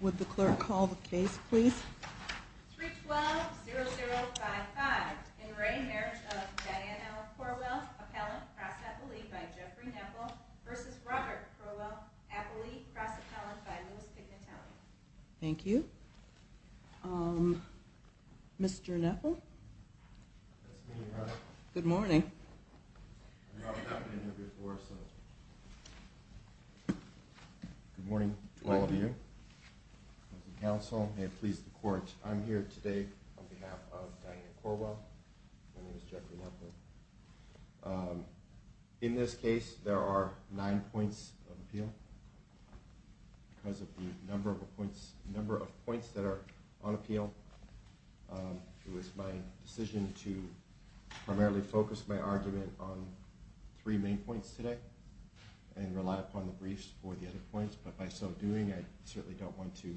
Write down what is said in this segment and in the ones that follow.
Would the clerk call the case, please? Thank you. Mr Neffel. Good morning. Good morning to all of you. Counsel, please the court. I'm here today on behalf of Daniel Corwell. My name is Jeffrey Neffel. Um, in this case, there are nine points of appeal because of the number of points, number of points that are on appeal. Um, it was my decision to primarily focus my argument on three main points today and rely upon the briefs for the other points. But by so doing, I certainly don't want to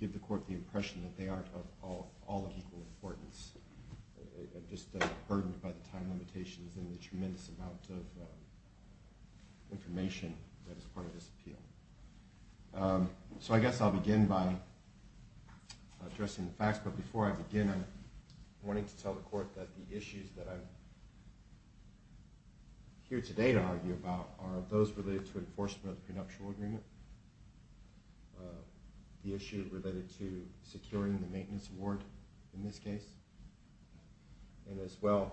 give the court the impression that they aren't of all, all of equal importance, just burdened by the time limitations and the tremendous amount of information that is part of this appeal. Um, so I guess I'll begin by addressing the facts. But before I begin, I'm wanting to tell the court that the issues that I'm here today to argue about are those related to enforcement of the prenuptial agreement, uh, the issue related to securing the maintenance award in this case, and as well,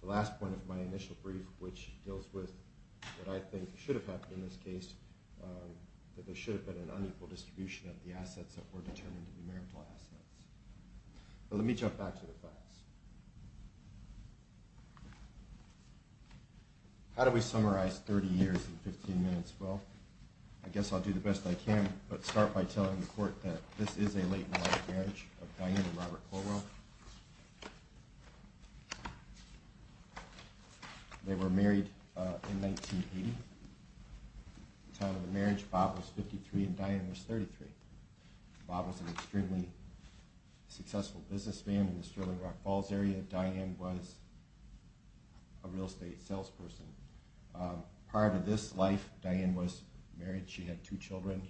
the last point of my initial brief, which deals with what I think should have happened in this case, um, that there should have been an unequal distribution of the assets that were determined to be marital assets. So let me jump back to the facts. How do we summarize 30 years in 15 minutes? Well, I guess I'll do the best I can, but start by telling the court that this is a late marriage of Diana and Robert Corwell. They were married, uh, in 1980, the time of the marriage, Bob was 53 and Diane was 33. Bob was an extremely successful businessman in the Sterling Rock Falls area. Diane was a real estate salesperson. Um, prior to this life, Diane was married. She had two children.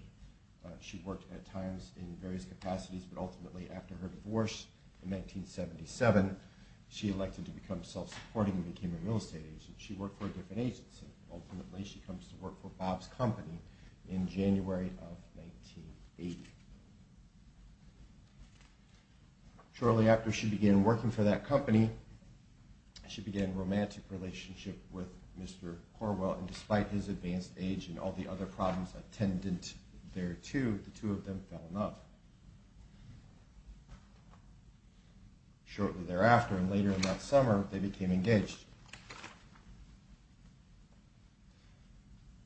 Uh, she worked at times in various capacities, but ultimately after her divorce in 1977, she elected to become self-supporting and became a real estate agent. She worked for a different agency. Ultimately, she comes to work for Bob's company in January of 1980. Shortly after she began working for that company, she began a romantic relationship with Mr. Corwell. And despite his advanced age and all the other problems attendant there too, the two of them fell in love. Shortly thereafter, and later in that summer, they became engaged.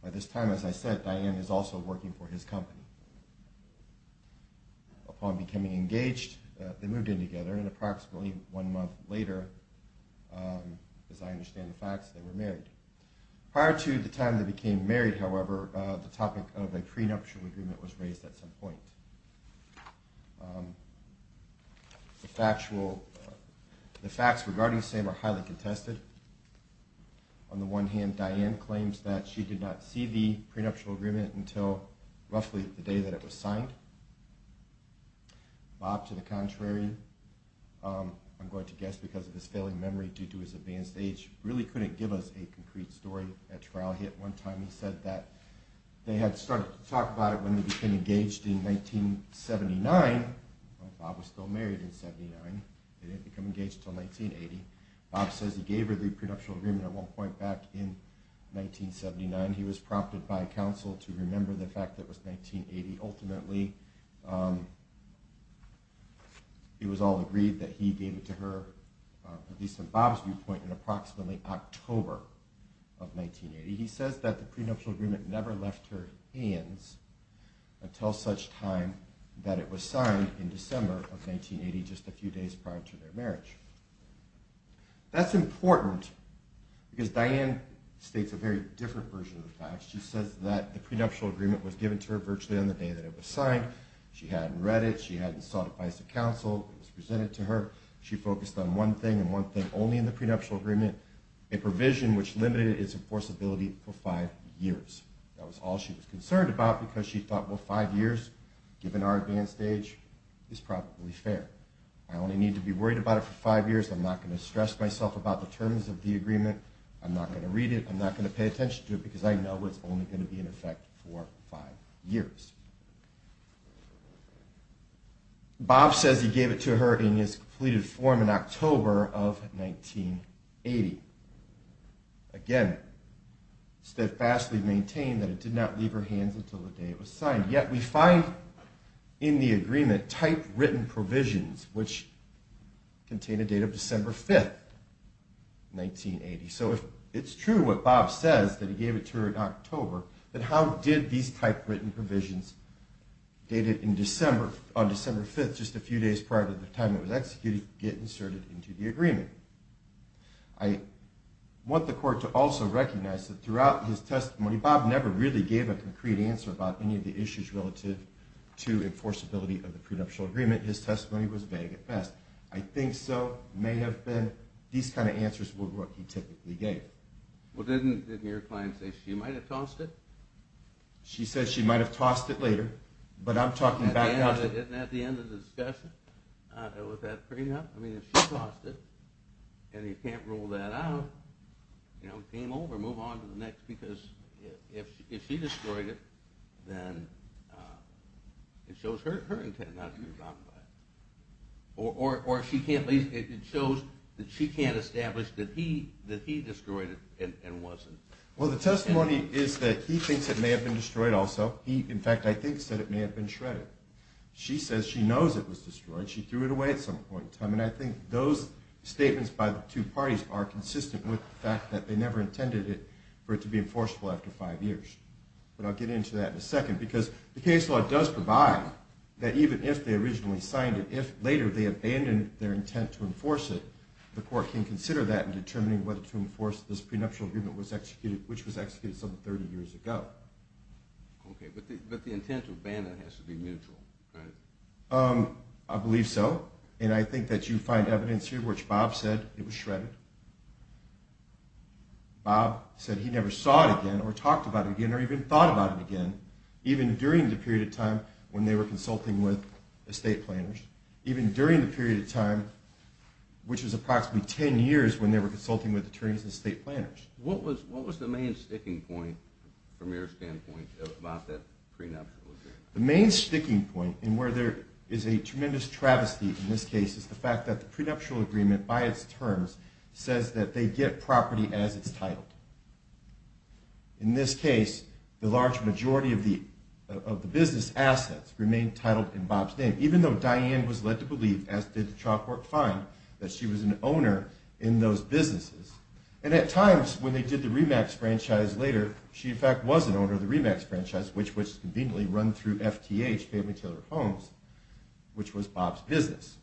By this time, as I said, Diane is also working for his company. Upon becoming engaged, they moved in together and approximately one month later, um, as I understand the facts, they were married. Prior to the time they became married. However, uh, the topic of a prenuptial agreement was raised at some point. Um, the factual, the facts regarding the same are highly contested on the one hand. Diane claims that she did not see the prenuptial agreement until roughly the day that it was signed. Bob, to the contrary. Um, I'm going to guess because of his failing memory due to his advanced age, really couldn't give us a concrete story at trial. He, at one time he said that they had started to talk about it when they became engaged in 1979, Bob was still married in 79. They didn't become engaged until 1980. Bob says he gave her the prenuptial agreement at one point back in 1979. He was prompted by counsel to remember the fact that it was 1980. Ultimately, um, it was all agreed that he gave it to her, uh, at least in Bob's viewpoint in approximately October of 1980. He says that the prenuptial agreement never left her hands until such time that it was signed in December of 1980, just a few days prior to their marriage. That's important because Diane states a very different version of the facts. She says that the prenuptial agreement was given to her virtually on the day that it was signed. She hadn't read it. She hadn't sought advice of counsel. It was presented to her. She focused on one thing and one thing only in the prenuptial agreement, a for five years. That was all she was concerned about because she thought, well, five years, given our advanced age is probably fair. I only need to be worried about it for five years. I'm not going to stress myself about the terms of the agreement. I'm not going to read it. I'm not going to pay attention to it because I know it's only going to be in effect for five years. Bob says he gave it to her in his completed form in October of 1980. Again, steadfastly maintain that it did not leave her hands until the day it was signed. Yet we find in the agreement type written provisions, which contain a date of December 5th, 1980. So if it's true, what Bob says that he gave it to her in October, that how did these type written provisions dated in December on December 5th, just a few days later, I want the court to also recognize that throughout his testimony, Bob never really gave a concrete answer about any of the issues relative to enforceability of the prenuptial agreement. His testimony was vague at best. I think so may have been these kinds of answers were what he typically gave. Well, didn't, didn't your client say she might've tossed it. She said she might've tossed it later, but I'm talking about it at the end of the discussion. I don't know. She tossed it and he can't rule that out, you know, came over, move on to the next because if she destroyed it, then it shows her, her intent not to be robbed by it. Or, or, or she can't leave. It shows that she can't establish that he, that he destroyed it and wasn't. Well, the testimony is that he thinks it may have been destroyed also. He, in fact, I think said it may have been shredded. She says she knows it was destroyed. She threw it away at some point in time. And I think those statements by the two parties are consistent with the fact that they never intended it for it to be enforceable after five years. But I'll get into that in a second because the case law does provide that even if they originally signed it, if later they abandoned their intent to enforce it, the court can consider that in determining whether to enforce this prenuptial agreement was executed, which was executed some 30 years ago. Okay. But the, but the intent to abandon has to be mutual, right? Um, I believe so. And I think that you find evidence here, which Bob said it was shredded. Bob said he never saw it again or talked about it again, or even thought about it again, even during the period of time when they were consulting with estate planners, even during the period of time, which was approximately 10 years when they were consulting with attorneys and state planners, what was, what was the main sticking point from your standpoint about that prenup? The main sticking point in where there is a tremendous travesty in this case is the fact that the prenuptial agreement by its terms says that they get property as it's titled. In this case, the large majority of the, of the business assets remain titled in Bob's name, even though Diane was led to believe, as did the chalk work fine, that she was an owner in those businesses. And at times when they did the Remax franchise later, she in fact was an owner of the Remax franchise, which was conveniently run through FTH, Family Tailor Homes, which was Bob's business.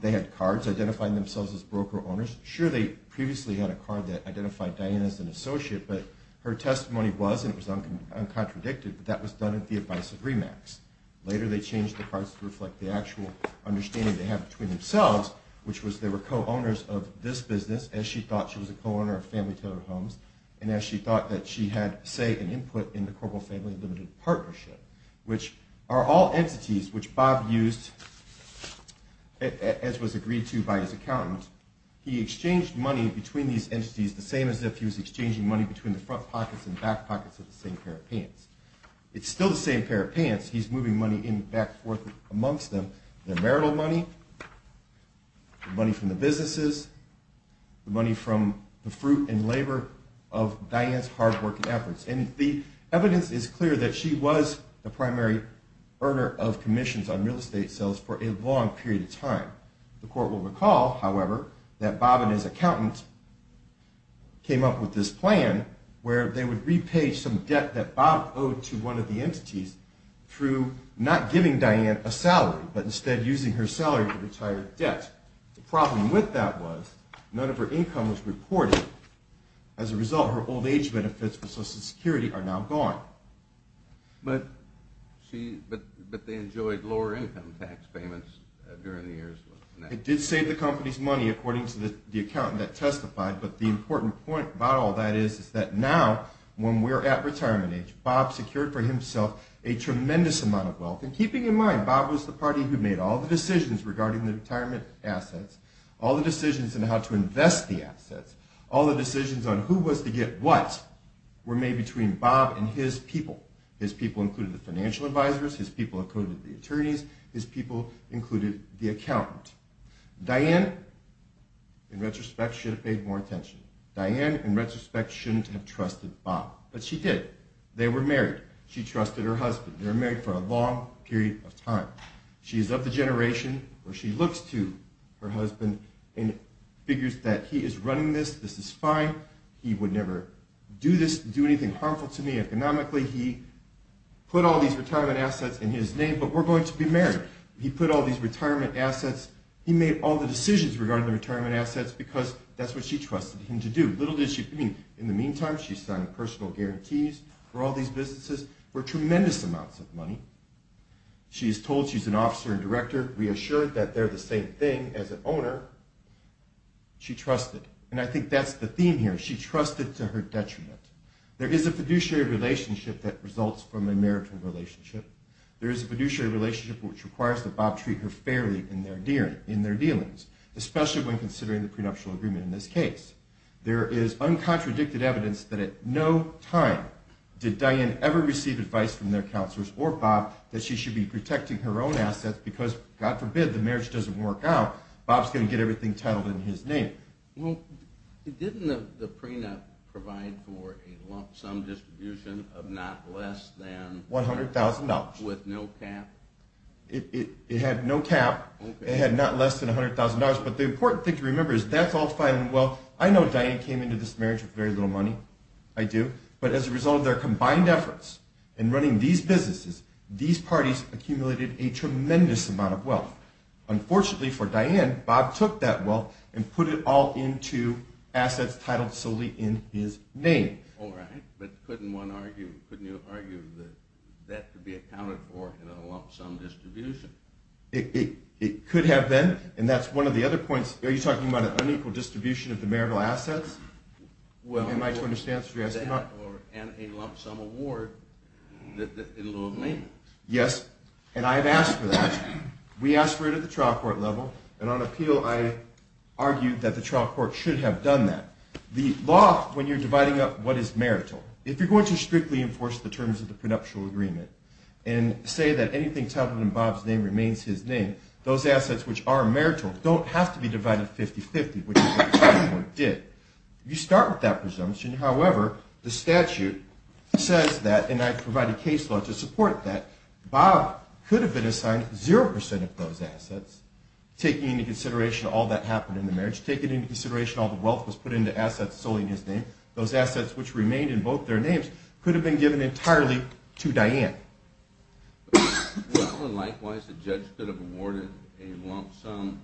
They had cards identifying themselves as broker owners. Sure, they previously had a card that identified Diane as an associate, but her testimony was, and it was uncontradicted, but that was done at the advice of Remax. Later, they changed the cards to reflect the actual understanding they have between themselves, which was they were co-owners of this business as she thought she was a co-owner of Family Tailor Homes, and as she thought that she had, say, an input in the Corporal Family Limited Partnership, which are all entities which Bob used as was agreed to by his accountant. He exchanged money between these entities, the same as if he was exchanging money between the front pockets and back pockets of the same pair of pants. It's still the same pair of pants. He's moving money in, back, forth amongst them. Their marital money, the money from the businesses, the money from the fruit and labor of Diane's hard work and efforts. And the evidence is clear that she was the primary earner of commissions on real estate sales for a long period of time. The court will recall, however, that Bob and his accountant came up with this plan where they would repay some debt that Bob owed to one of the entities through not giving Diane a salary, but instead using her salary to retire debt. The problem with that was none of her income was reported. As a result, her old age benefits for Social Security are now gone. But she, but they enjoyed lower income tax payments during the years. It did save the company's money, according to the accountant that testified. But the important point about all that is that now, when we're at retirement age, Bob secured for himself a tremendous amount of wealth. And keeping in mind, Bob was the party who made all the decisions regarding the retirement assets, all the decisions on how to invest the assets, all the decisions on who was to get what, were made between Bob and his people. His people included the financial advisors. His people included the attorneys. His people included the accountant. Diane, in retrospect, should have paid more attention. Diane, in retrospect, shouldn't have trusted Bob, but she did. They were married. She trusted her husband. They were married for a long period of time. She is of the generation where she looks to her husband and figures that he is running this, this is fine, he would never do this, do anything harmful to me economically. He put all these retirement assets in his name, but we're going to be married. He put all these retirement assets. He made all the decisions regarding the retirement assets because that's what she trusted him to do. Little did she mean. In the meantime, she signed personal guarantees for all these businesses for tremendous amounts of money. She is told she's an officer and director. Reassured that they're the same thing as an owner. She trusted, and I think that's the theme here. She trusted to her detriment. There is a fiduciary relationship that results from a marital relationship. There is a fiduciary relationship which requires that Bob treat her fairly in their dealings, especially when considering the prenuptial agreement in this case. There is uncontradicted evidence that at no time did Diane ever receive advice from their counselors or Bob that she should be protecting her own assets because God forbid the marriage doesn't work out. Bob's going to get everything titled in his name. Well, didn't the prenup provide for a lump sum distribution of not less than $100,000 with no cap? It had no cap. It had not less than a hundred thousand dollars. But the important thing to remember is that's all fine and well. I know Diane came into this marriage with very little money. I do. But as a result of their combined efforts in running these businesses, these parties accumulated a tremendous amount of wealth. Unfortunately for Diane, Bob took that wealth and put it all into assets titled solely in his name. All right. But couldn't one argue, couldn't you argue that that could be accounted for in a lump sum distribution? It could have been. And that's one of the other points. Are you talking about an unequal distribution of the marital assets? Well, am I to understand that you're asking about? And a lump sum award that it'll all mean. Yes. And I've asked for that. We asked for it at the trial court level and on appeal, I argued that the trial court should have done that. The law, when you're dividing up what is marital, if you're going to strictly enforce the terms of the prenuptial agreement and say that anything titled in remains his name, those assets, which are marital, don't have to be divided 50 50, which did you start with that presumption. However, the statute says that, and I provide a case law to support that Bob could have been assigned 0% of those assets, taking into consideration all that happened in the marriage, taking into consideration all the wealth was put into assets, solely in his name. Those assets, which remained in both their names could have been given entirely to the judge could have awarded a lump sum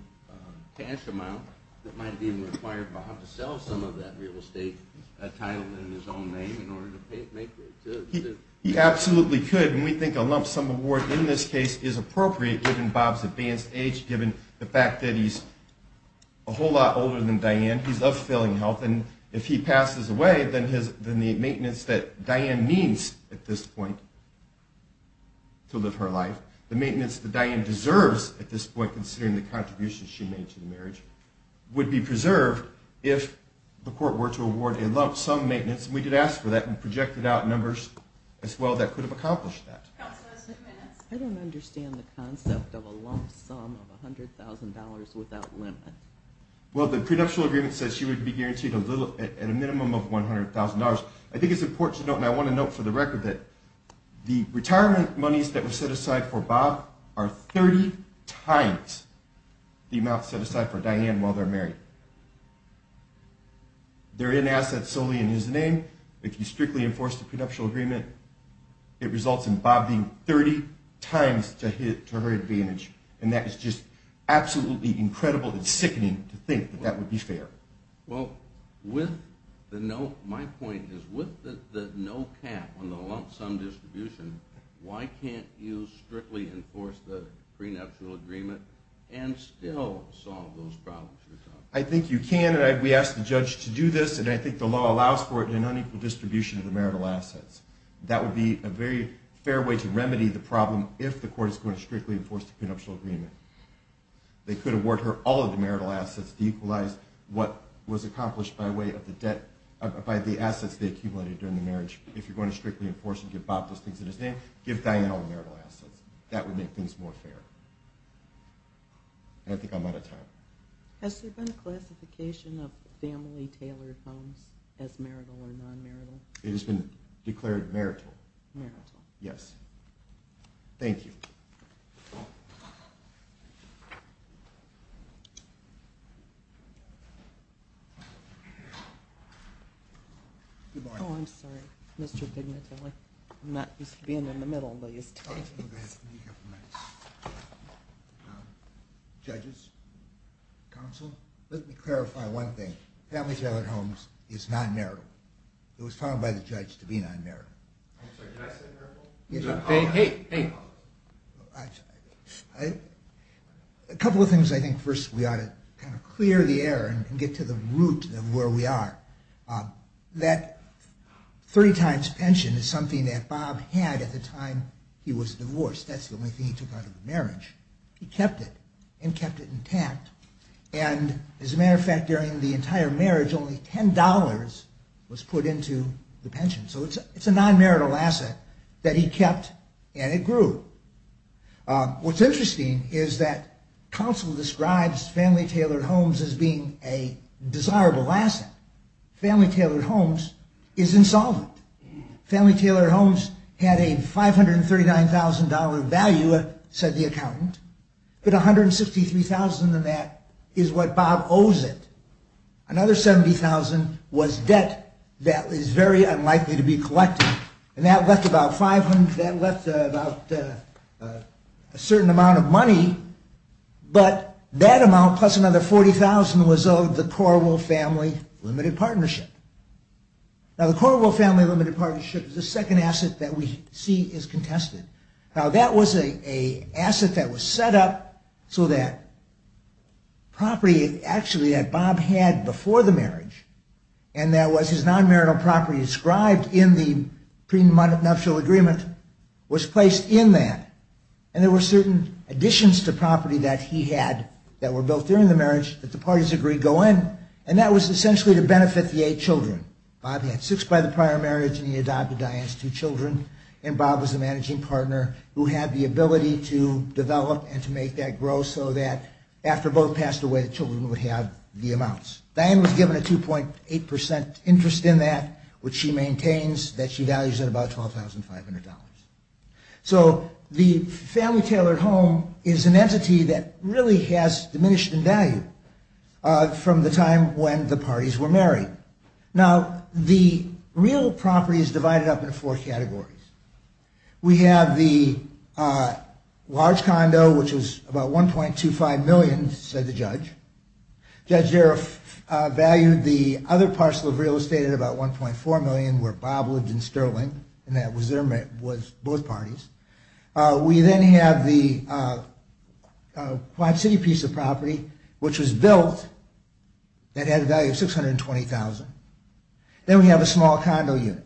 cash amount that might have been required by how to sell some of that real estate title in his own name in order to make it. He absolutely could. And we think a lump sum award in this case is appropriate given Bob's advanced age, given the fact that he's a whole lot older than Diane he's of failing health. And if he passes away, then his, then the maintenance that Diane needs at this point to live her life, the maintenance that Diane deserves at this point, considering the contributions she made to the marriage would be preserved if the court were to award a lump sum maintenance. And we did ask for that and projected out numbers as well. That could have accomplished that. I don't understand the concept of a lump sum of a hundred thousand dollars without limit. Well, the prenuptial agreement says she would be guaranteed a little at a minimum of $100,000. I think it's important to note. And I want to note for the record that the retirement monies that were set aside for Bob are 30 times the amount set aside for Diane while they're married. They're in assets solely in his name. If you strictly enforce the prenuptial agreement, it results in Bob being 30 times to hit to her advantage. And that is just absolutely incredible. It's sickening to think that that would be fair. Well, with the note, my point is with the no cap on the lump sum distribution, why can't you strictly enforce the prenuptial agreement and still solve those problems? I think you can. And I, we asked the judge to do this and I think the law allows for it in an unequal distribution of the marital assets. That would be a very fair way to remedy the problem. If the court is going to strictly enforce the prenuptial agreement, they could award her all of the marital assets to equalize what was accomplished by way of the debt, by the assets they accumulated during the marriage. If you're going to strictly enforce and give Bob those things in his name, give Diane all the marital assets. That would make things more fair. And I think I'm out of time. Has there been a classification of family tailored homes as marital or non-marital? It has been declared marital. Yes. Thank you. Oh, I'm sorry, Mr. Dignitarily. I'm not used to being in the middle. Judges, counsel, let me clarify one thing. Family tailored homes is non-marital. It was found by the judge to be non-marital. I'm sorry, did I say marital? Hey, a couple of things. I think first we ought to kind of clear the air and get to the root of where we are. That three times pension is something that Bob had at the time he was divorced. That's the only thing he took out of the marriage. He kept it and kept it intact. And as a matter of fact, during the entire marriage, only $10 was put into the pension. So it's a non-marital asset that he kept and it grew. What's interesting is that counsel describes family tailored homes as being a desirable asset. Family tailored homes is insolvent. Family tailored homes had a $539,000 value, said the accountant, but $163,000 of that is what Bob owes it. Another $70,000 was debt that is very unlikely to be collected. And that left about a certain amount of money, but that amount plus another $40,000 was owed the Corwell Family Limited Partnership. Now, the Corwell Family Limited Partnership is the second asset that we see is contested. Now, that was a asset that was set up so that property actually that Bob had before the marriage and that was his non-marital property inscribed in the prenuptial agreement was placed in that. And there were certain additions to property that he had that were built during the marriage that the parties agreed go in. And that was essentially to benefit the eight children. Bob had six by the prior marriage and he adopted Diane's two children. And Bob was the managing partner who had the ability to develop and to make that grow so that after both passed away, the children would have the amounts. Diane was given a 2.8% interest in that, which she maintains that she values at about $12,500. So the family tailored home is an entity that really has diminished in value from the time when the parties were married. Now, the real property is divided up into four categories. We have the large condo, which is about $1.25 million, said the judge. Judge Jarreff valued the other parcel of real estate at about $1.4 million, where Bob lived in Sterling and that was both parties. We then have the Quad City piece of property, which was built, that had a value of $620,000. Then we have a small condo unit.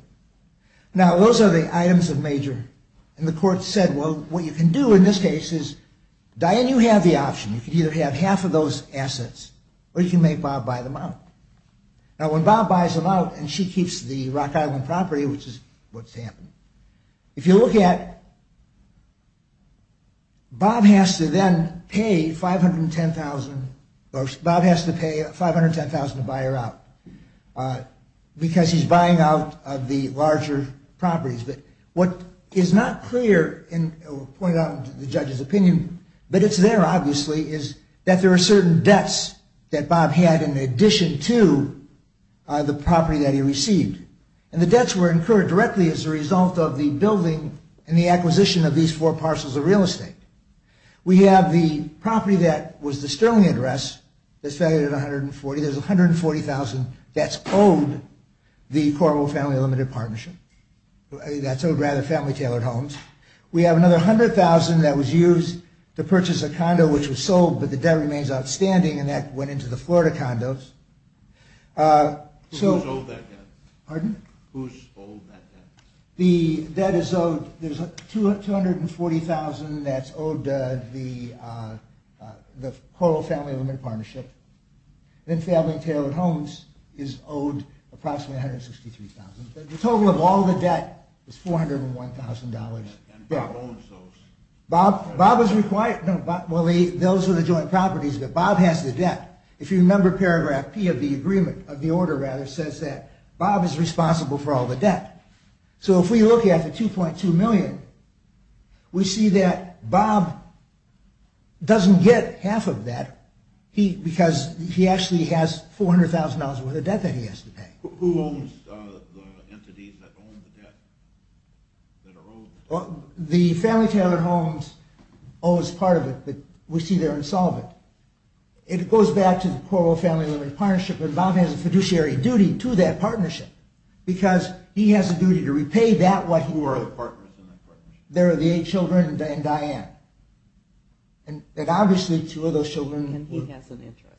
Now, those are the items of major and the court said, well, what you can do in this case is, Diane, you have the option. You can either have half of those assets or you can make Bob buy them out. Now, when Bob buys them out and she keeps the Rock Island property, which is what's happened. If you look at. Bob has to then pay $510,000 or Bob has to pay $510,000 to buy her out because he's buying out of the larger properties. But what is not clear and pointed out the judge's opinion, but it's there, obviously, is that there are certain debts that Bob had in addition to the property that he received. And the debts were incurred directly as a result of the building and the acquisition of these four parcels of real estate. We have the property that was the Sterling address that's valued at $140,000. There's $140,000 that's owed the Coralville Family Limited Partnership, that's owed rather Family Tailored Homes. We have another $100,000 that was used to purchase a condo, which was sold, but the debt remains outstanding. And that went into the Florida condos. Who's owed that debt? The debt is owed, there's $240,000 that's owed the Coralville Family Limited Partnership, then Family Tailored Homes is owed approximately $163,000. The total of all the debt is $401,000. And Bob owns those? Bob is required, no, those are the joint properties, but Bob has the debt. If you remember paragraph P of the agreement, of the order rather, says that Bob is responsible for all the debt. So if we look at the $2.2 million, we see that Bob doesn't get half of that, because he actually has $400,000 worth of debt that he has to pay. Who owns the entities that own the debt that are owed? The Family Tailored Homes owes part of it, but we see they're insolvent. It goes back to the Coralville Family Limited Partnership, but Bob has a fiduciary duty to that partnership, because he has a duty to repay that what he owes. Who are the partners in that partnership? There are the eight children and Diane. And obviously two of those children... And he has an interest.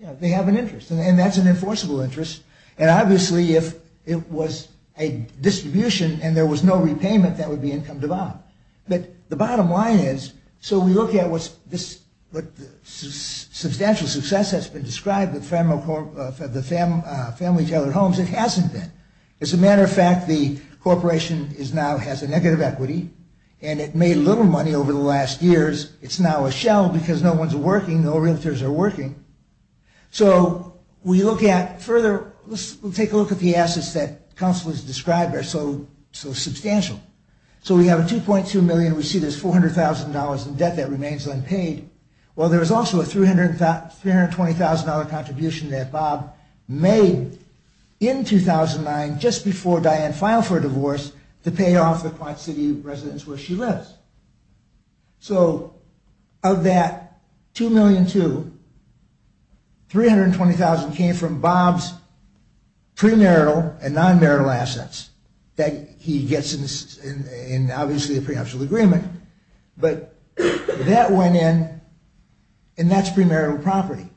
Yeah, they have an interest, and that's an enforceable interest. And obviously if it was a distribution and there was no repayment, that would be income to Bob. But the bottom line is, so we look at what substantial success has been described with the Family Tailored Homes, it hasn't been. As a matter of fact, the corporation now has a negative equity, and it made little money over the last years. It's now a shell, because no one's working, no realtors are working. So we look at further... Let's take a look at the assets that Council has described are so substantial. So we have a $2.2 million. We see there's $400,000 in debt that remains unpaid. Well, there is also a $320,000 contribution that Bob made in 2009 just before Diane filed for a divorce to pay off the Quad City residence where she lives. So of that $2.2 million, $320,000 came from Bob's premarital and non-marital assets that he gets in obviously a prenuptial agreement. But that went in, and that's premarital property.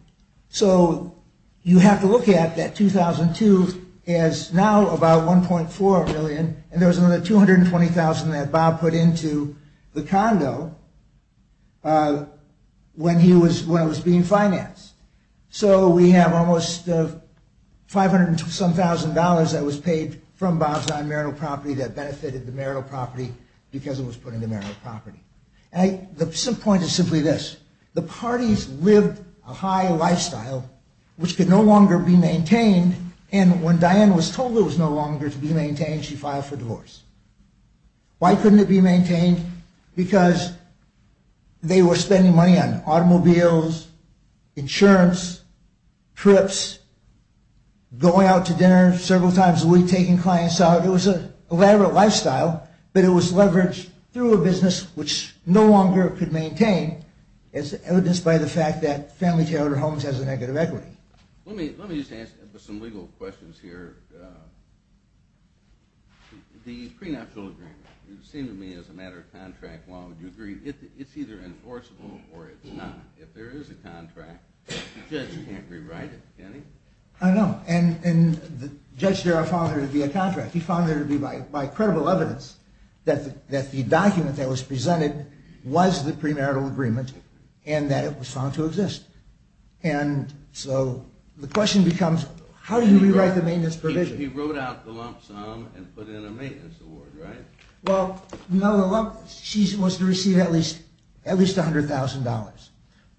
So you have to look at that $2,200,000 as now about $1.4 million, and there was another $220,000 that Bob put into the condo when it was being financed. So we have almost $500,000 that was paid from Bob's non-marital property that benefited the marital property because it was put into marital property. The point is simply this. The parties lived a high lifestyle which could no longer be maintained, and when Diane was told it was no longer to be maintained, she filed for divorce. Why couldn't it be maintained? Because they were spending money on automobiles, insurance, trips, going out to dinner several times a week, taking clients out. It was an elaborate lifestyle, but it was leveraged through a business which no longer could maintain as evidenced by the fact that family-territory homes has a negative equity. Let me just answer some legal questions here. The prenuptial agreement, it seemed to me as a matter of contract, why would you agree? It's either enforceable or it's not. If there is a contract, the judge can't rewrite it, can he? I know, and Judge Darrow found there to be a contract. He found there to be, by credible evidence, that the document that was presented was the premarital agreement and that it was found to exist. The question becomes, how do you rewrite the maintenance provision? He wrote out the lump sum and put in a maintenance award, right? Well, she was to receive at least $100,000.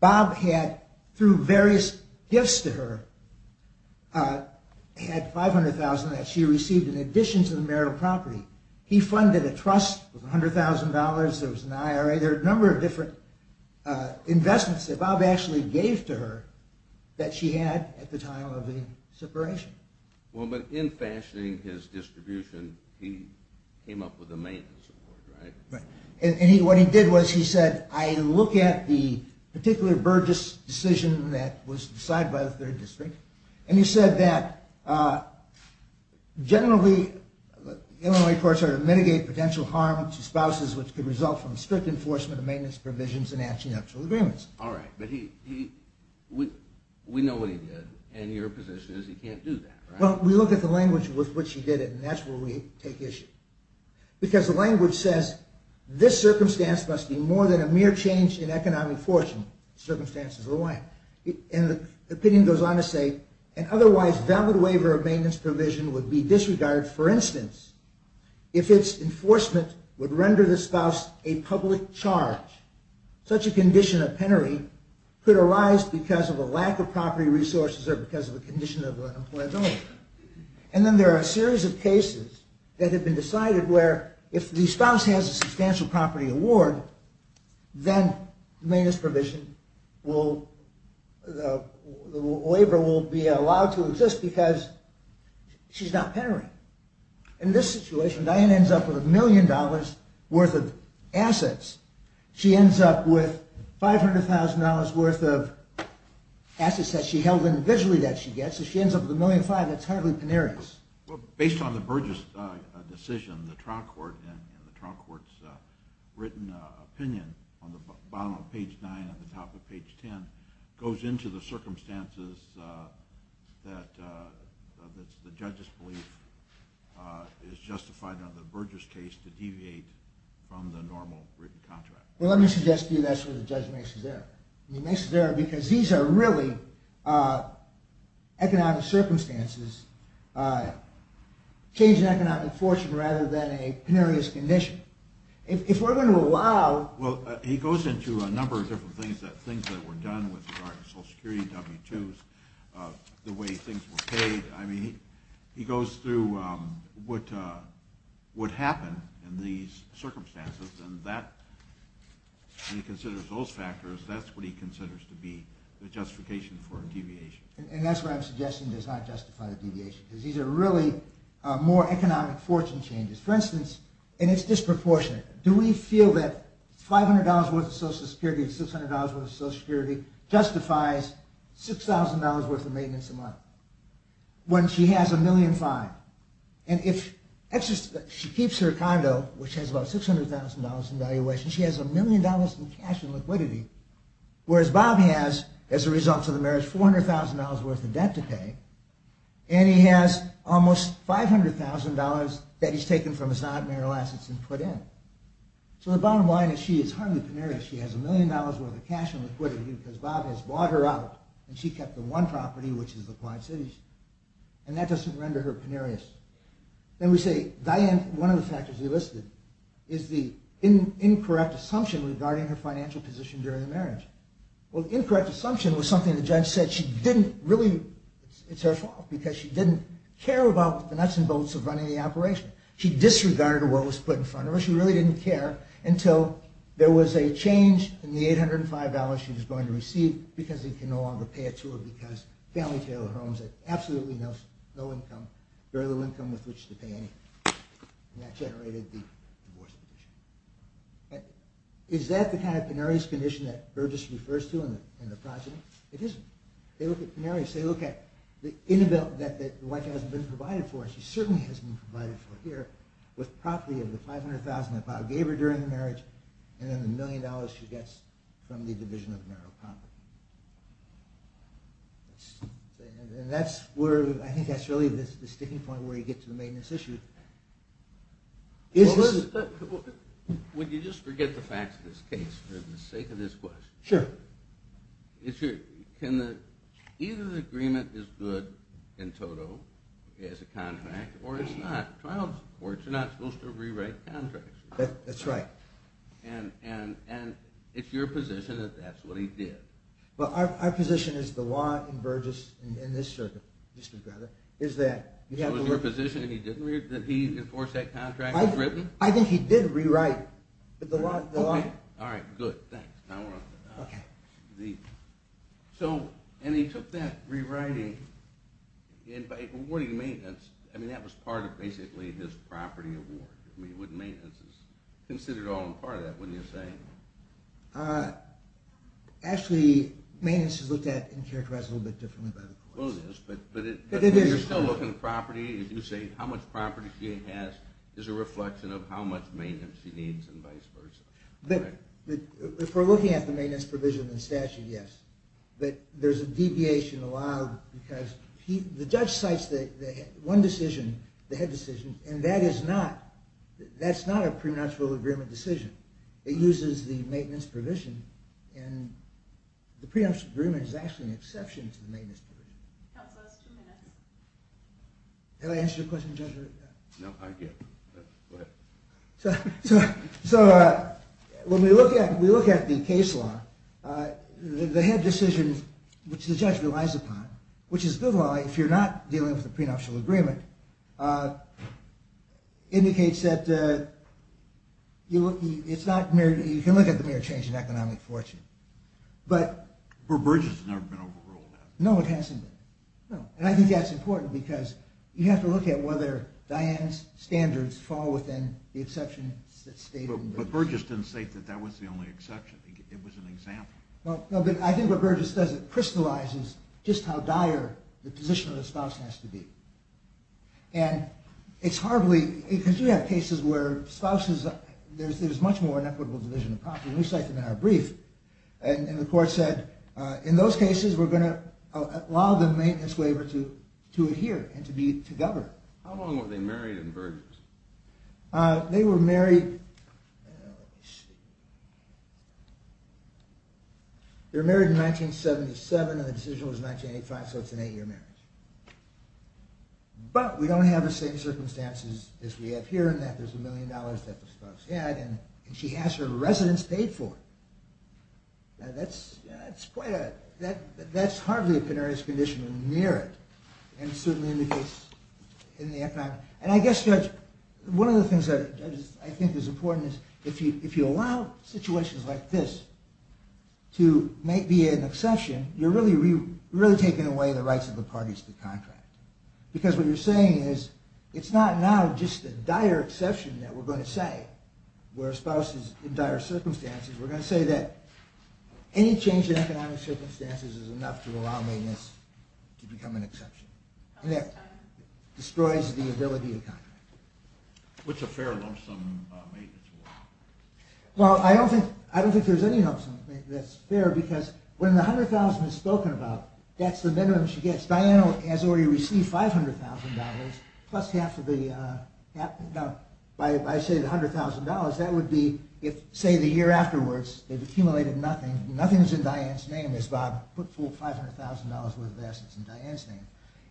Bob had, through various gifts to her, had $500,000 that she received in addition to the marital property. He funded a trust with $100,000. There was an IRA. There were a number of different investments. Bob actually gave to her that she had at the time of the separation. Well, but in fashioning his distribution, he came up with a maintenance award, right? Right. And what he did was he said, I look at the particular Burgess decision that was decided by the third district, and he said that generally, Illinois courts are to mitigate potential harm to spouses, which could result from strict enforcement of maintenance provisions and actual agreements. All right. But we know what he did. And your position is he can't do that, right? Well, we look at the language with which he did it, and that's where we take issue. Because the language says, this circumstance must be more than a mere change in economic fortune. Circumstances of the life. And the opinion goes on to say, an otherwise valid waiver of maintenance provision would be disregarded, for instance, if its enforcement would render the spouse a public charge. Such a condition of penury could arise because of a lack of property resources or because of a condition of unemployability. And then there are a series of cases that have been decided where if the spouse has a substantial property award, then maintenance provision will, the waiver will be allowed to exist because she's not penuring. In this situation, Diane ends up with $1 million worth of assets. She ends up with $500,000 worth of assets that she held in visually that she gets, so she ends up with $1.5 million that's hardly penurious. Based on the Burgess decision, the trial court and the trial court's written opinion on the bottom of page 9 and the top of page 10 goes into the circumstances that the judge's belief is justified under the Burgess case to deviate from the normal written contract. Well, let me suggest to you that's where the judge makes his error. He makes his error because these are really economic circumstances, change in economic fortune rather than a penurious condition. If we're going to allow... Well, he goes into a number of different things, things that were done with regard to Social Security, W-2s, the way things were paid. I mean, he goes through what would happen in these circumstances and that, when he considers those factors, that's what he considers to be the justification for deviation. And that's why I'm suggesting does not justify the deviation because these are really more economic fortune changes. For instance, and it's disproportionate, do we feel that $500 worth of Social Security and $600 worth of Social Security justifies $6,000 worth of maintenance a month when she has $1,000,005? And if she keeps her condo, which has about $600,000 in valuation, she has $1,000,000 in cash and liquidity, whereas Bob has, as a result of the marriage, $400,000 worth of debt to pay and he has almost $500,000 that he's taken from his non-marital assets and put in. So the bottom line is she is hardly penurious. She has $1,000,000 worth of cash and liquidity because Bob has bought her out and she kept the one property, which is the Quad Cities, and that doesn't render her penurious. Then we say, Diane, one of the factors he listed is the incorrect assumption regarding her financial position during the marriage. Well, the incorrect assumption was something the judge said she didn't really... It's her fault because she didn't care about the nuts and bolts of running the operation. She disregarded what was put in front of her. She really didn't care until there was a change in the $805 she was going to receive because they could no longer pay it to her because family tailored homes had absolutely no income, very little income with which to pay anything. And that generated the divorce petition. Is that the kind of penurious condition that Burgess refers to in the project? It isn't. They look at penuries. They look at the inability that the wife hasn't been provided for. She certainly hasn't been provided for here with property of the $500,000 that Bob gave her during the marriage and then the $1,000,000 she gets from the division of marital property. And I think that's really the sticking point where you get to the maintenance issue. Would you just forget the facts of this case for the sake of this question? Sure. Either the agreement is good in total as a contract or it's not. Trials courts are not supposed to rewrite contracts. That's right. And it's your position that that's what he did. Well, our position is the law in Burgess, in this circuit, is that you have to work... So it's your position that he didn't, that he enforced that contract? I think he did rewrite the law. All right, good. Thanks. So, and he took that rewriting and by awarding maintenance, I mean, that was part of basically his property award. I mean, wouldn't maintenance be considered all and part of that, wouldn't you say? Actually, maintenance is looked at and characterized a little bit differently by the courts. Well, it is, but you're still looking at property. You say how much property he has is a reflection of how much maintenance he needs and vice versa. If we're looking at the maintenance provision in the statute, yes. But there's a deviation allowed because the judge cites one decision, the head decision, and that is not, that's not a prenuptial agreement decision. It uses the maintenance provision, and the prenuptial agreement is actually an exception to the maintenance provision. That was the last two minutes. Have I answered your question, Judge? No, go ahead. So when we look at the case law, the head decision, which the judge relies upon, which is good law if you're not dealing with a prenuptial agreement, indicates that you look, it's not, you can look at the mere change in economic fortune, but... But Burgess has never been overruled. No, it hasn't been. No. And I think that's important because you have to look at whether Diane's standards fall within the exceptions that state... But Burgess didn't state that that was the only exception. It was an example. No, but I think what Burgess does, it crystallizes just how dire the position of the spouse has to be. And it's hardly, because you have cases where spouses, there's much more inequitable division of property, and we cited that in our brief, and the court said, in those cases, we're going to allow the maintenance waiver to adhere and to govern. How long were they married in Burgess? They were married... They were married in 1977, and the decision was in 1985, so it's an eight-year marriage. But we don't have the same circumstances as we have here in that there's a million dollars that the spouse had, and she has her residence paid for. That's quite a... That's hardly a penarius condition near it. And it certainly indicates in the economic... And I guess, Judge, one of the things that I think is important is, if you allow situations like this to be an exception, you're really taking away the rights of the parties to the contract. Because what you're saying is, it's not now just a dire exception that we're going to say, where spouses, in dire circumstances, we're going to say that any change in economic circumstances is enough to allow maintenance to become an exception. And that destroys the ability of contract. What's a fair lump sum maintenance waiver? Well, I don't think there's any lump sum that's fair, because when the $100,000 is spoken about, that's the minimum she gets. Diane has already received $500,000, plus half of the... By saying $100,000, that would be, say, the year afterwards, they've accumulated nothing, nothing's in Diane's name, as Bob put full $500,000 worth of assets in Diane's name.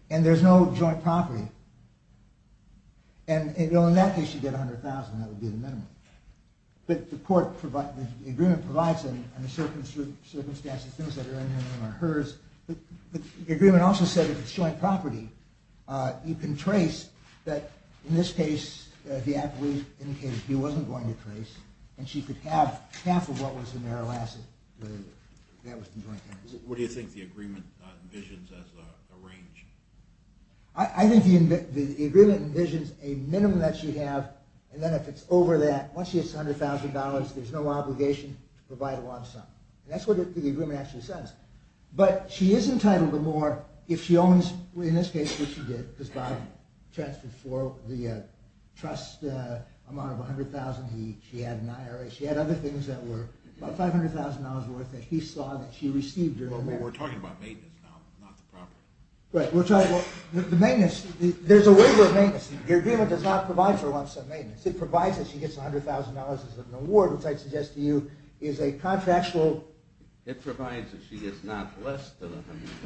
And there's no joint property. And in that case, she'd get $100,000, that would be the minimum. But the agreement provides, in the circumstances, things that are in her name are hers. The agreement also said, if it's joint property, you can trace that, in this case, the appellee indicated he wasn't going to trace, and she could have half of what was in their last... What do you think the agreement envisions as a range? I think the agreement envisions a minimum that she'd have, and then if it's over that, once she has $100,000, there's no obligation to provide a lump sum. And that's what the agreement actually says. But she is entitled to more if she owns, in this case, what she did, because Bob transferred for the trust amount of $100,000, she had an IRA, she had other things that were about $500,000 worth that he saw that she received during the... But we're talking about maintenance now, not the property. Right, we're talking about the maintenance. There's a waiver of maintenance. The agreement does not provide for a lump sum maintenance. It provides that she gets $100,000 as an award, which I'd suggest to you is a contractual... It provides that she gets not less than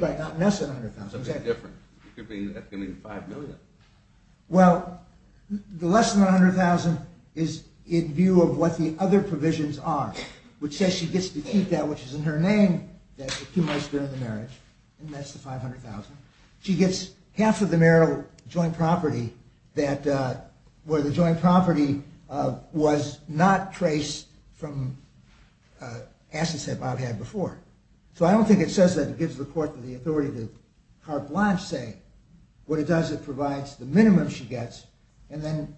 $100,000. Right, not less than $100,000. Something different. That could mean $5 million. Well, the less than $100,000 is in view of what the other provisions are, which says she gets to keep that which is in her name that accumulates during the marriage, and that's the $500,000. She gets half of the marital joint property where the joint property was not traced from assets that Bob had before. So I don't think it says that. It gives the court the authority to carte blanche, say. What it does, it provides the minimum she gets, and then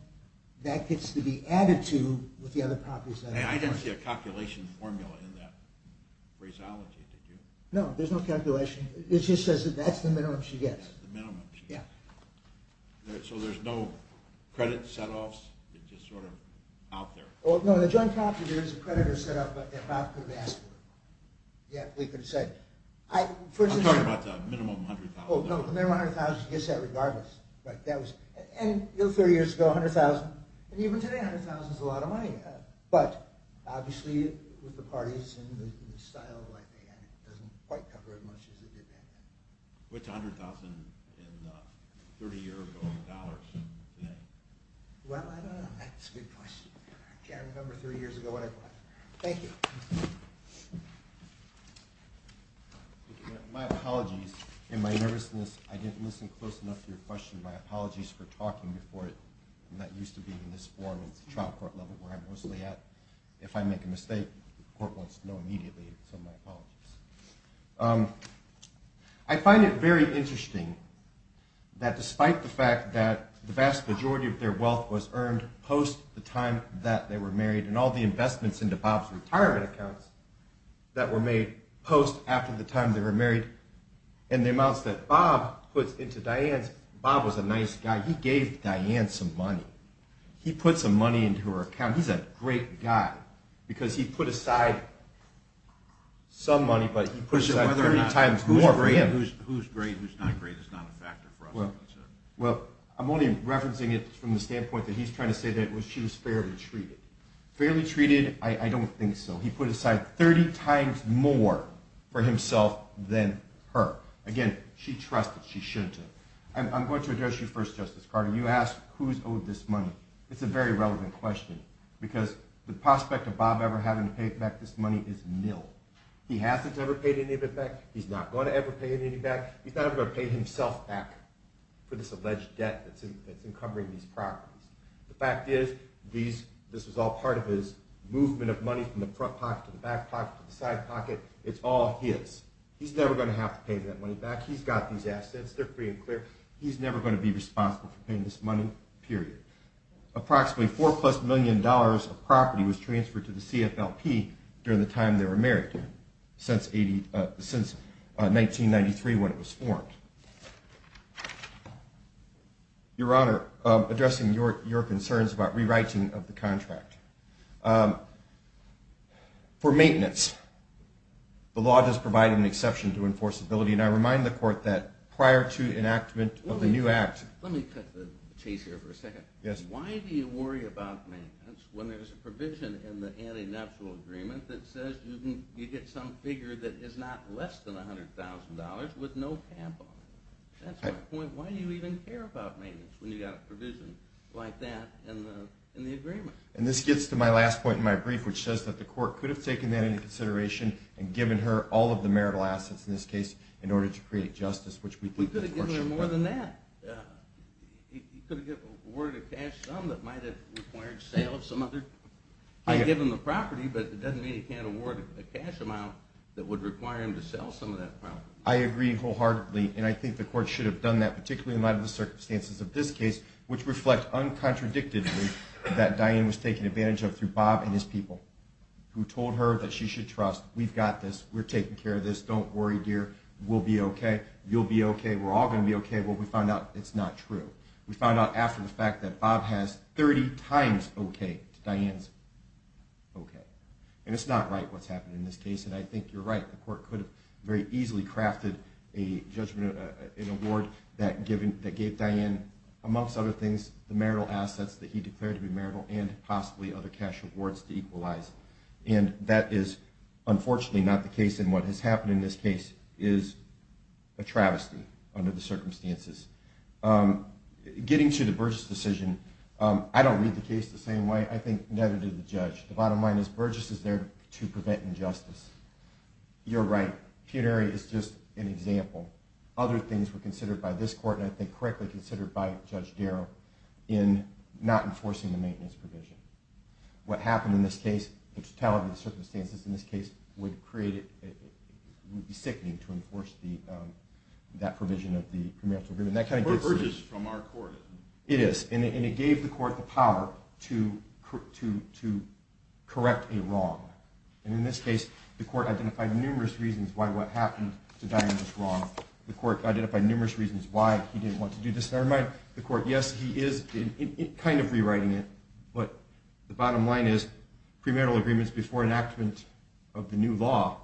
that gets to be added to with the other properties. I didn't see a calculation formula in that phraseology, did you? No, there's no calculation. It just says that that's the minimum she gets. That's the minimum she gets. Yeah. So there's no credit set-offs? It's just sort of out there? Well, no, the joint property there is a credit or set-off that Bob could have asked for. Yeah, we could have said. I'm talking about the minimum $100,000. Oh, no, the minimum $100,000, she gets that regardless. And 30 years ago, $100,000. And even today, $100,000 is a lot of money. But obviously, with the parties and the style, it doesn't quite cover as much as it did then. Which $100,000 in 30-year-old dollars? Well, I don't know. That's a good question. I can't remember 30 years ago what I bought. Thank you. My apologies. In my nervousness, I didn't listen close enough to your question. My apologies for talking before it. I'm not used to being in this forum at the trial court level where I'm mostly at. If I make a mistake, the court wants to know immediately, so my apologies. I find it very interesting that despite the fact that the vast majority of their wealth was earned post the time that they were married and all the investments into Bob's retirement accounts that were made post after the time they were married and the amounts that Bob puts into Diane's. Bob was a nice guy. He gave Diane some money. He put some money into her account. He's a great guy because he put aside some money, but he put aside 30 times more for him. Whose great, whose not great is not a factor for us to consider. Well, I'm only referencing it from the standpoint that he's trying to say that she was fairly treated. Fairly treated? I don't think so. He put aside 30 times more for himself than her. Again, she trusted. She shouldn't have. I'm going to address you first, Justice Carter. When you ask who's owed this money, it's a very relevant question because the prospect of Bob ever having to pay back this money is nil. He hasn't ever paid any of it back. He's not going to ever pay any of it back. He's not ever going to pay himself back for this alleged debt that's encumbering these properties. The fact is this is all part of his movement of money from the front pocket to the back pocket to the side pocket. It's all his. He's never going to have to pay that money back. He's got these assets. They're free and clear. He's never going to be responsible for paying this money, period. Approximately $4-plus million of property was transferred to the CFLP during the time they were married since 1993 when it was formed. Your Honor, addressing your concerns about rewriting of the contract. For maintenance, the law does provide an exception to enforceability, and I remind the court that prior to enactment of the new act. Let me cut the chase here for a second. Why do you worry about maintenance when there's a provision in the anti-natural agreement that says you get some figure that is not less than $100,000 with no tampon? That's my point. Why do you even care about maintenance when you've got a provision like that in the agreement? This gets to my last point in my brief, which says that the court could have taken that into consideration and given her all of the marital assets, in this case, in order to create justice. We could have given her more than that. He could have awarded her cash sum that might have required sale of some other property, but it doesn't mean he can't award a cash amount that would require him to sell some of that property. I agree wholeheartedly, and I think the court should have done that, particularly in light of the circumstances of this case, which reflect uncontradictively that Diane was taken advantage of through Bob and his people, who told her that she should trust. We've got this. We're taking care of this. Don't worry, dear. We'll be okay. You'll be okay. We're all going to be okay. Well, we found out it's not true. We found out after the fact that Bob has 30 times okay to Diane's okay. And it's not right what's happening in this case, and I think you're right. The court could have very easily crafted an award that gave Diane, amongst other things, the marital assets that he declared to be marital and possibly other cash awards to equalize. And that is unfortunately not the case, and what has happened in this case is a travesty under the circumstances. Getting to the Burgess decision, I don't read the case the same way. I think neither did the judge. The bottom line is Burgess is there to prevent injustice. You're right. Peonary is just an example. Other things were considered by this court, and I think correctly considered by Judge Darrow, in not enforcing the maintenance provision. What happened in this case, the totality of the circumstances in this case, would be sickening to enforce that provision of the premarital agreement. That kind of gets to you. But it's Burgess from our court. It is, and it gave the court the power to correct a wrong. And in this case, the court identified numerous reasons why what happened to Diane was wrong. The court identified numerous reasons why he didn't want to do this. Never mind the court. Yes, he is kind of rewriting it. But the bottom line is premarital agreements before enactment of the new law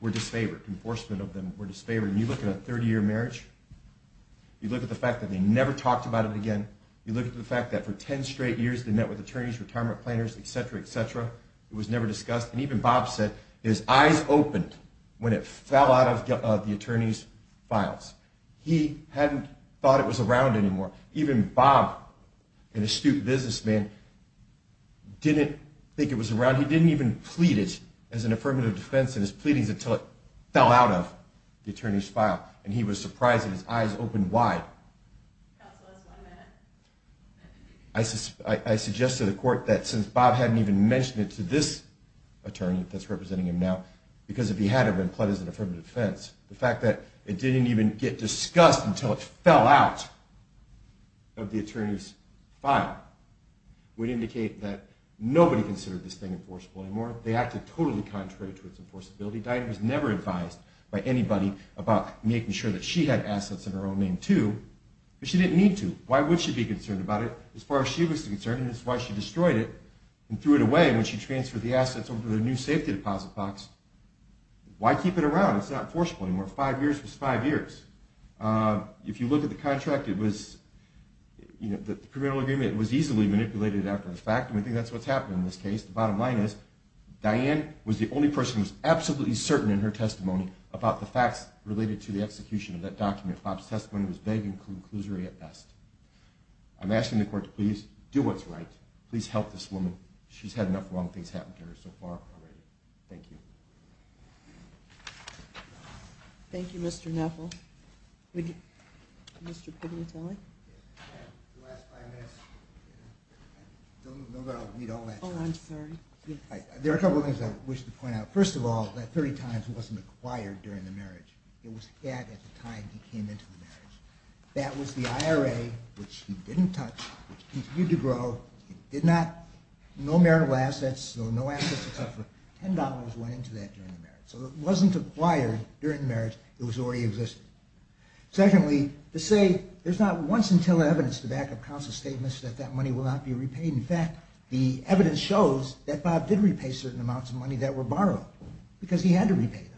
were disfavored. Enforcement of them were disfavored. And you look at a 30-year marriage, you look at the fact that they never talked about it again, you look at the fact that for 10 straight years they met with attorneys, retirement planners, et cetera, et cetera. It was never discussed. And even Bob said his eyes opened when it fell out of the attorney's files. He hadn't thought it was around anymore. Even Bob, an astute businessman, didn't think it was around. He didn't even plead it as an affirmative defense in his pleadings until it fell out of the attorney's file. And he was surprised that his eyes opened wide. Counsel, that's one minute. I suggested to the court that since Bob hadn't even mentioned it to this attorney that's representing him now, because if he had, it would have been pled as an affirmative defense. The fact that it didn't even get discussed until it fell out of the attorney's file would indicate that nobody considered this thing enforceable anymore. They acted totally contrary to its enforceability. Diane was never advised by anybody about making sure that she had assets in her own name, too. But she didn't need to. Why would she be concerned about it? As far as she was concerned, and this is why she destroyed it and threw it away when she transferred the assets over to the new safety deposit box. Why keep it around? It's not enforceable anymore. Five years was five years. If you look at the contract, the criminal agreement was easily manipulated after the fact, and I think that's what's happened in this case. The bottom line is Diane was the only person who was absolutely certain in her testimony about the facts related to the execution of that document. Bob's testimony was vague and clusery at best. I'm asking the court to please do what's right. Please help this woman. She's had enough wrong things happen to her so far already. Thank you. Thank you, Mr. Neffel. Mr. Pugliatelli? The last five minutes. I'm not going to read all that. Oh, I'm sorry. There are a couple of things I wish to point out. First of all, that 30 times wasn't acquired during the marriage. It was had at the time he came into the marriage. That was the IRA, which he didn't touch, which he continued to grow. No marital assets, no assets, except for $10 went into that during the marriage. So it wasn't acquired during the marriage. It was already existing. Secondly, to say there's not once until evidence to back up counsel's statements that that money will not be repaid. In fact, the evidence shows that Bob did repay certain amounts of money that were borrowed because he had to repay them.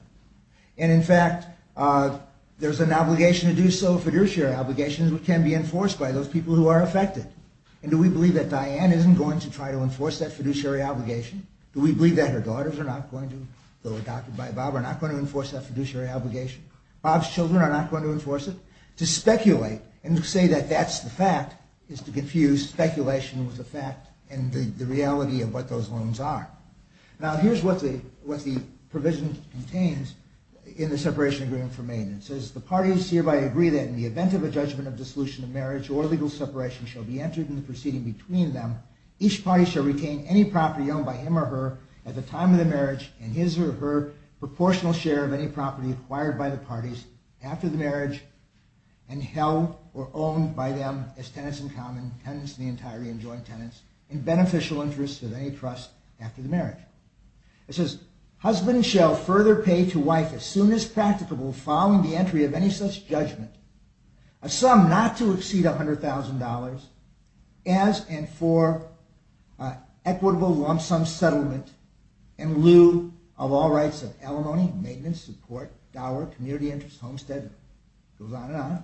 And in fact, there's an obligation to do so, a fiduciary obligation, that can be enforced by those people who are affected. And do we believe that Diane isn't going to try to enforce that fiduciary obligation? Do we believe that her daughters are not going to, though adopted by Bob, are not going to enforce that fiduciary obligation? Bob's children are not going to enforce it? To speculate and to say that that's the fact is to confuse speculation with the fact and the reality of what those loans are. Now, here's what the provision contains in the separation agreement for Maine. It says, shall be entered in the proceeding between them. Each party shall retain any property owned by him or her at the time of the marriage and his or her proportional share of any property acquired by the parties after the marriage and held or owned by them as tenants in common, tenants in the entirety and joint tenants, in beneficial interest of any trust after the marriage. It says, as and for equitable lump sum settlement in lieu of all rights of alimony, maintenance, support, dollar, community interest, homesteading. It goes on and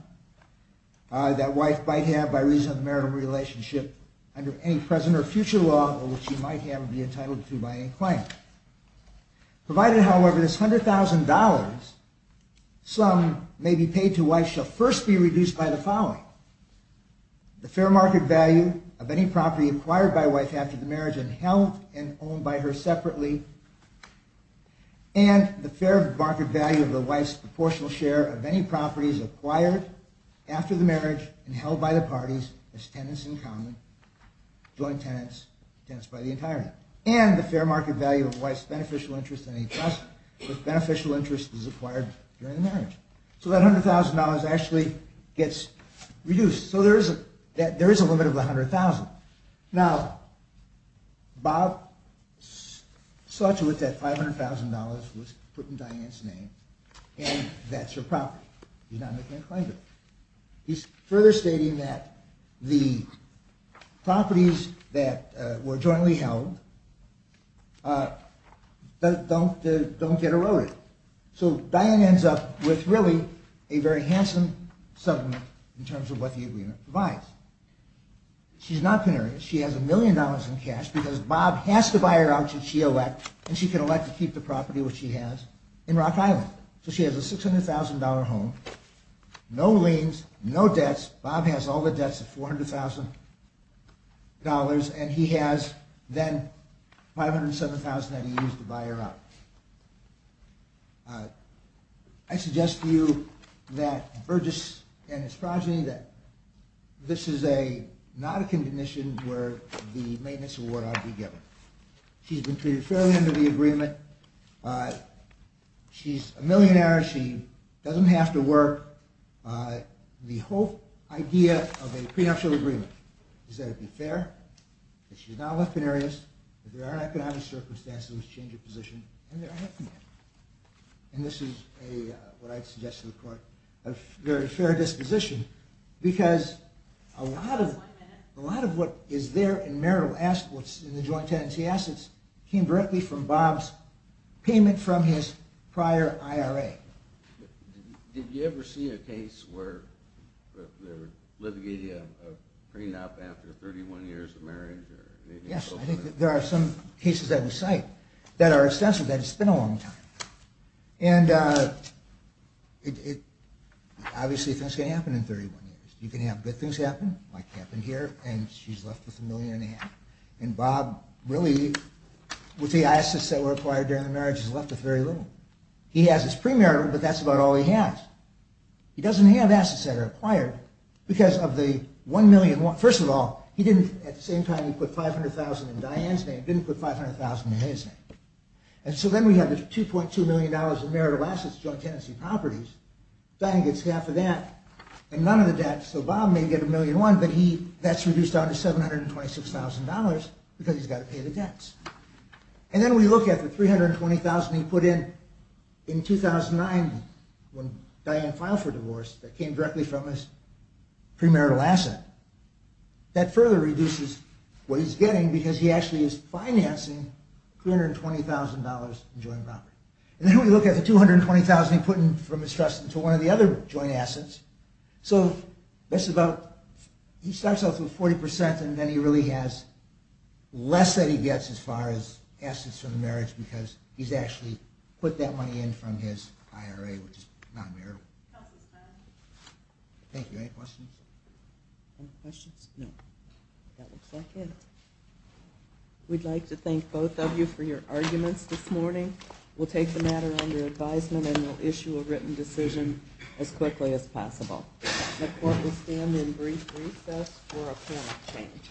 on. That wife might have, by reason of marital relationship, under any present or future law of which she might have or be entitled to by any claim. Provided, however, this $100,000, some may be paid to wife shall first be reduced by the following. The fair market value of any property acquired by wife after the marriage and held and owned by her separately and the fair market value of the wife's proportional share of any properties acquired after the marriage and held by the parties as tenants in common, joint tenants, tenants by the entirety, and the fair market value of wife's beneficial interest in any trust if beneficial interest is acquired during the marriage. So that $100,000 actually gets reduced. So there is a limit of $100,000. Now, Bob saw to it that $500,000 was put in Diane's name and that's her property. He's not making a claim to it. He's further stating that the properties that were jointly held don't get eroded. So Diane ends up with really a very handsome settlement in terms of what the agreement provides. She's not canary. She has a million dollars in cash because Bob has to buy her out to CHEO Act and she can elect to keep the property which she has in Rock Island. So she has a $600,000 home. No liens, no debts. Bob has all the debts of $400,000 and he has then $507,000 that he used to buy her out. I suggest to you that Burgess and his progeny, that this is not a condition where the maintenance award ought to be given. She's been treated fairly under the agreement. She's a millionaire. She doesn't have to work. The whole idea of a prenuptial agreement, is that it be fair, that she's not a left canary, that there are economic circumstances in which to change her position, and there aren't any. And this is what I'd suggest to the court, a very fair disposition, because a lot of what is there in marital assets, in the joint tenancy assets, came directly from Bob's payment from his prior IRA. Did you ever see a case where they're litigating a prenup after 31 years of marriage? Yes, I think there are some cases that we cite that are extensive, that it's been a long time. And obviously things can happen in 31 years. You can have good things happen, like happen here, and she's left with a million and a half. And Bob, really, with the assets that were acquired during the marriage, he's left with very little. He has his premarital, but that's about all he has. He doesn't have assets that are acquired, because of the $1,000,000... First of all, at the same time he put $500,000 in Diane's name, he didn't put $500,000 in his name. And so then we have the $2.2 million in marital assets, joint tenancy properties. Diane gets half of that, and none of the debts. So Bob may get a million and one, but that's reduced down to $726,000, because he's got to pay the debts. And then we look at the $320,000 he put in in 2009, when Diane filed for divorce, that came directly from his premarital asset. That further reduces what he's getting, because he actually is financing $320,000 in joint property. And then we look at the $220,000 he put in from his trust into one of the other joint assets. So that's about... He starts off with 40%, and then he really has less that he gets as far as assets for the marriage, because he's actually put that money in from his IRA, which is non-marital. Thank you. Any questions? Any questions? No. That looks like it. We'd like to thank both of you for your arguments this morning. We'll take the matter under advisement, and we'll issue a written decision as quickly as possible. The court will stand in brief recess for a point of change.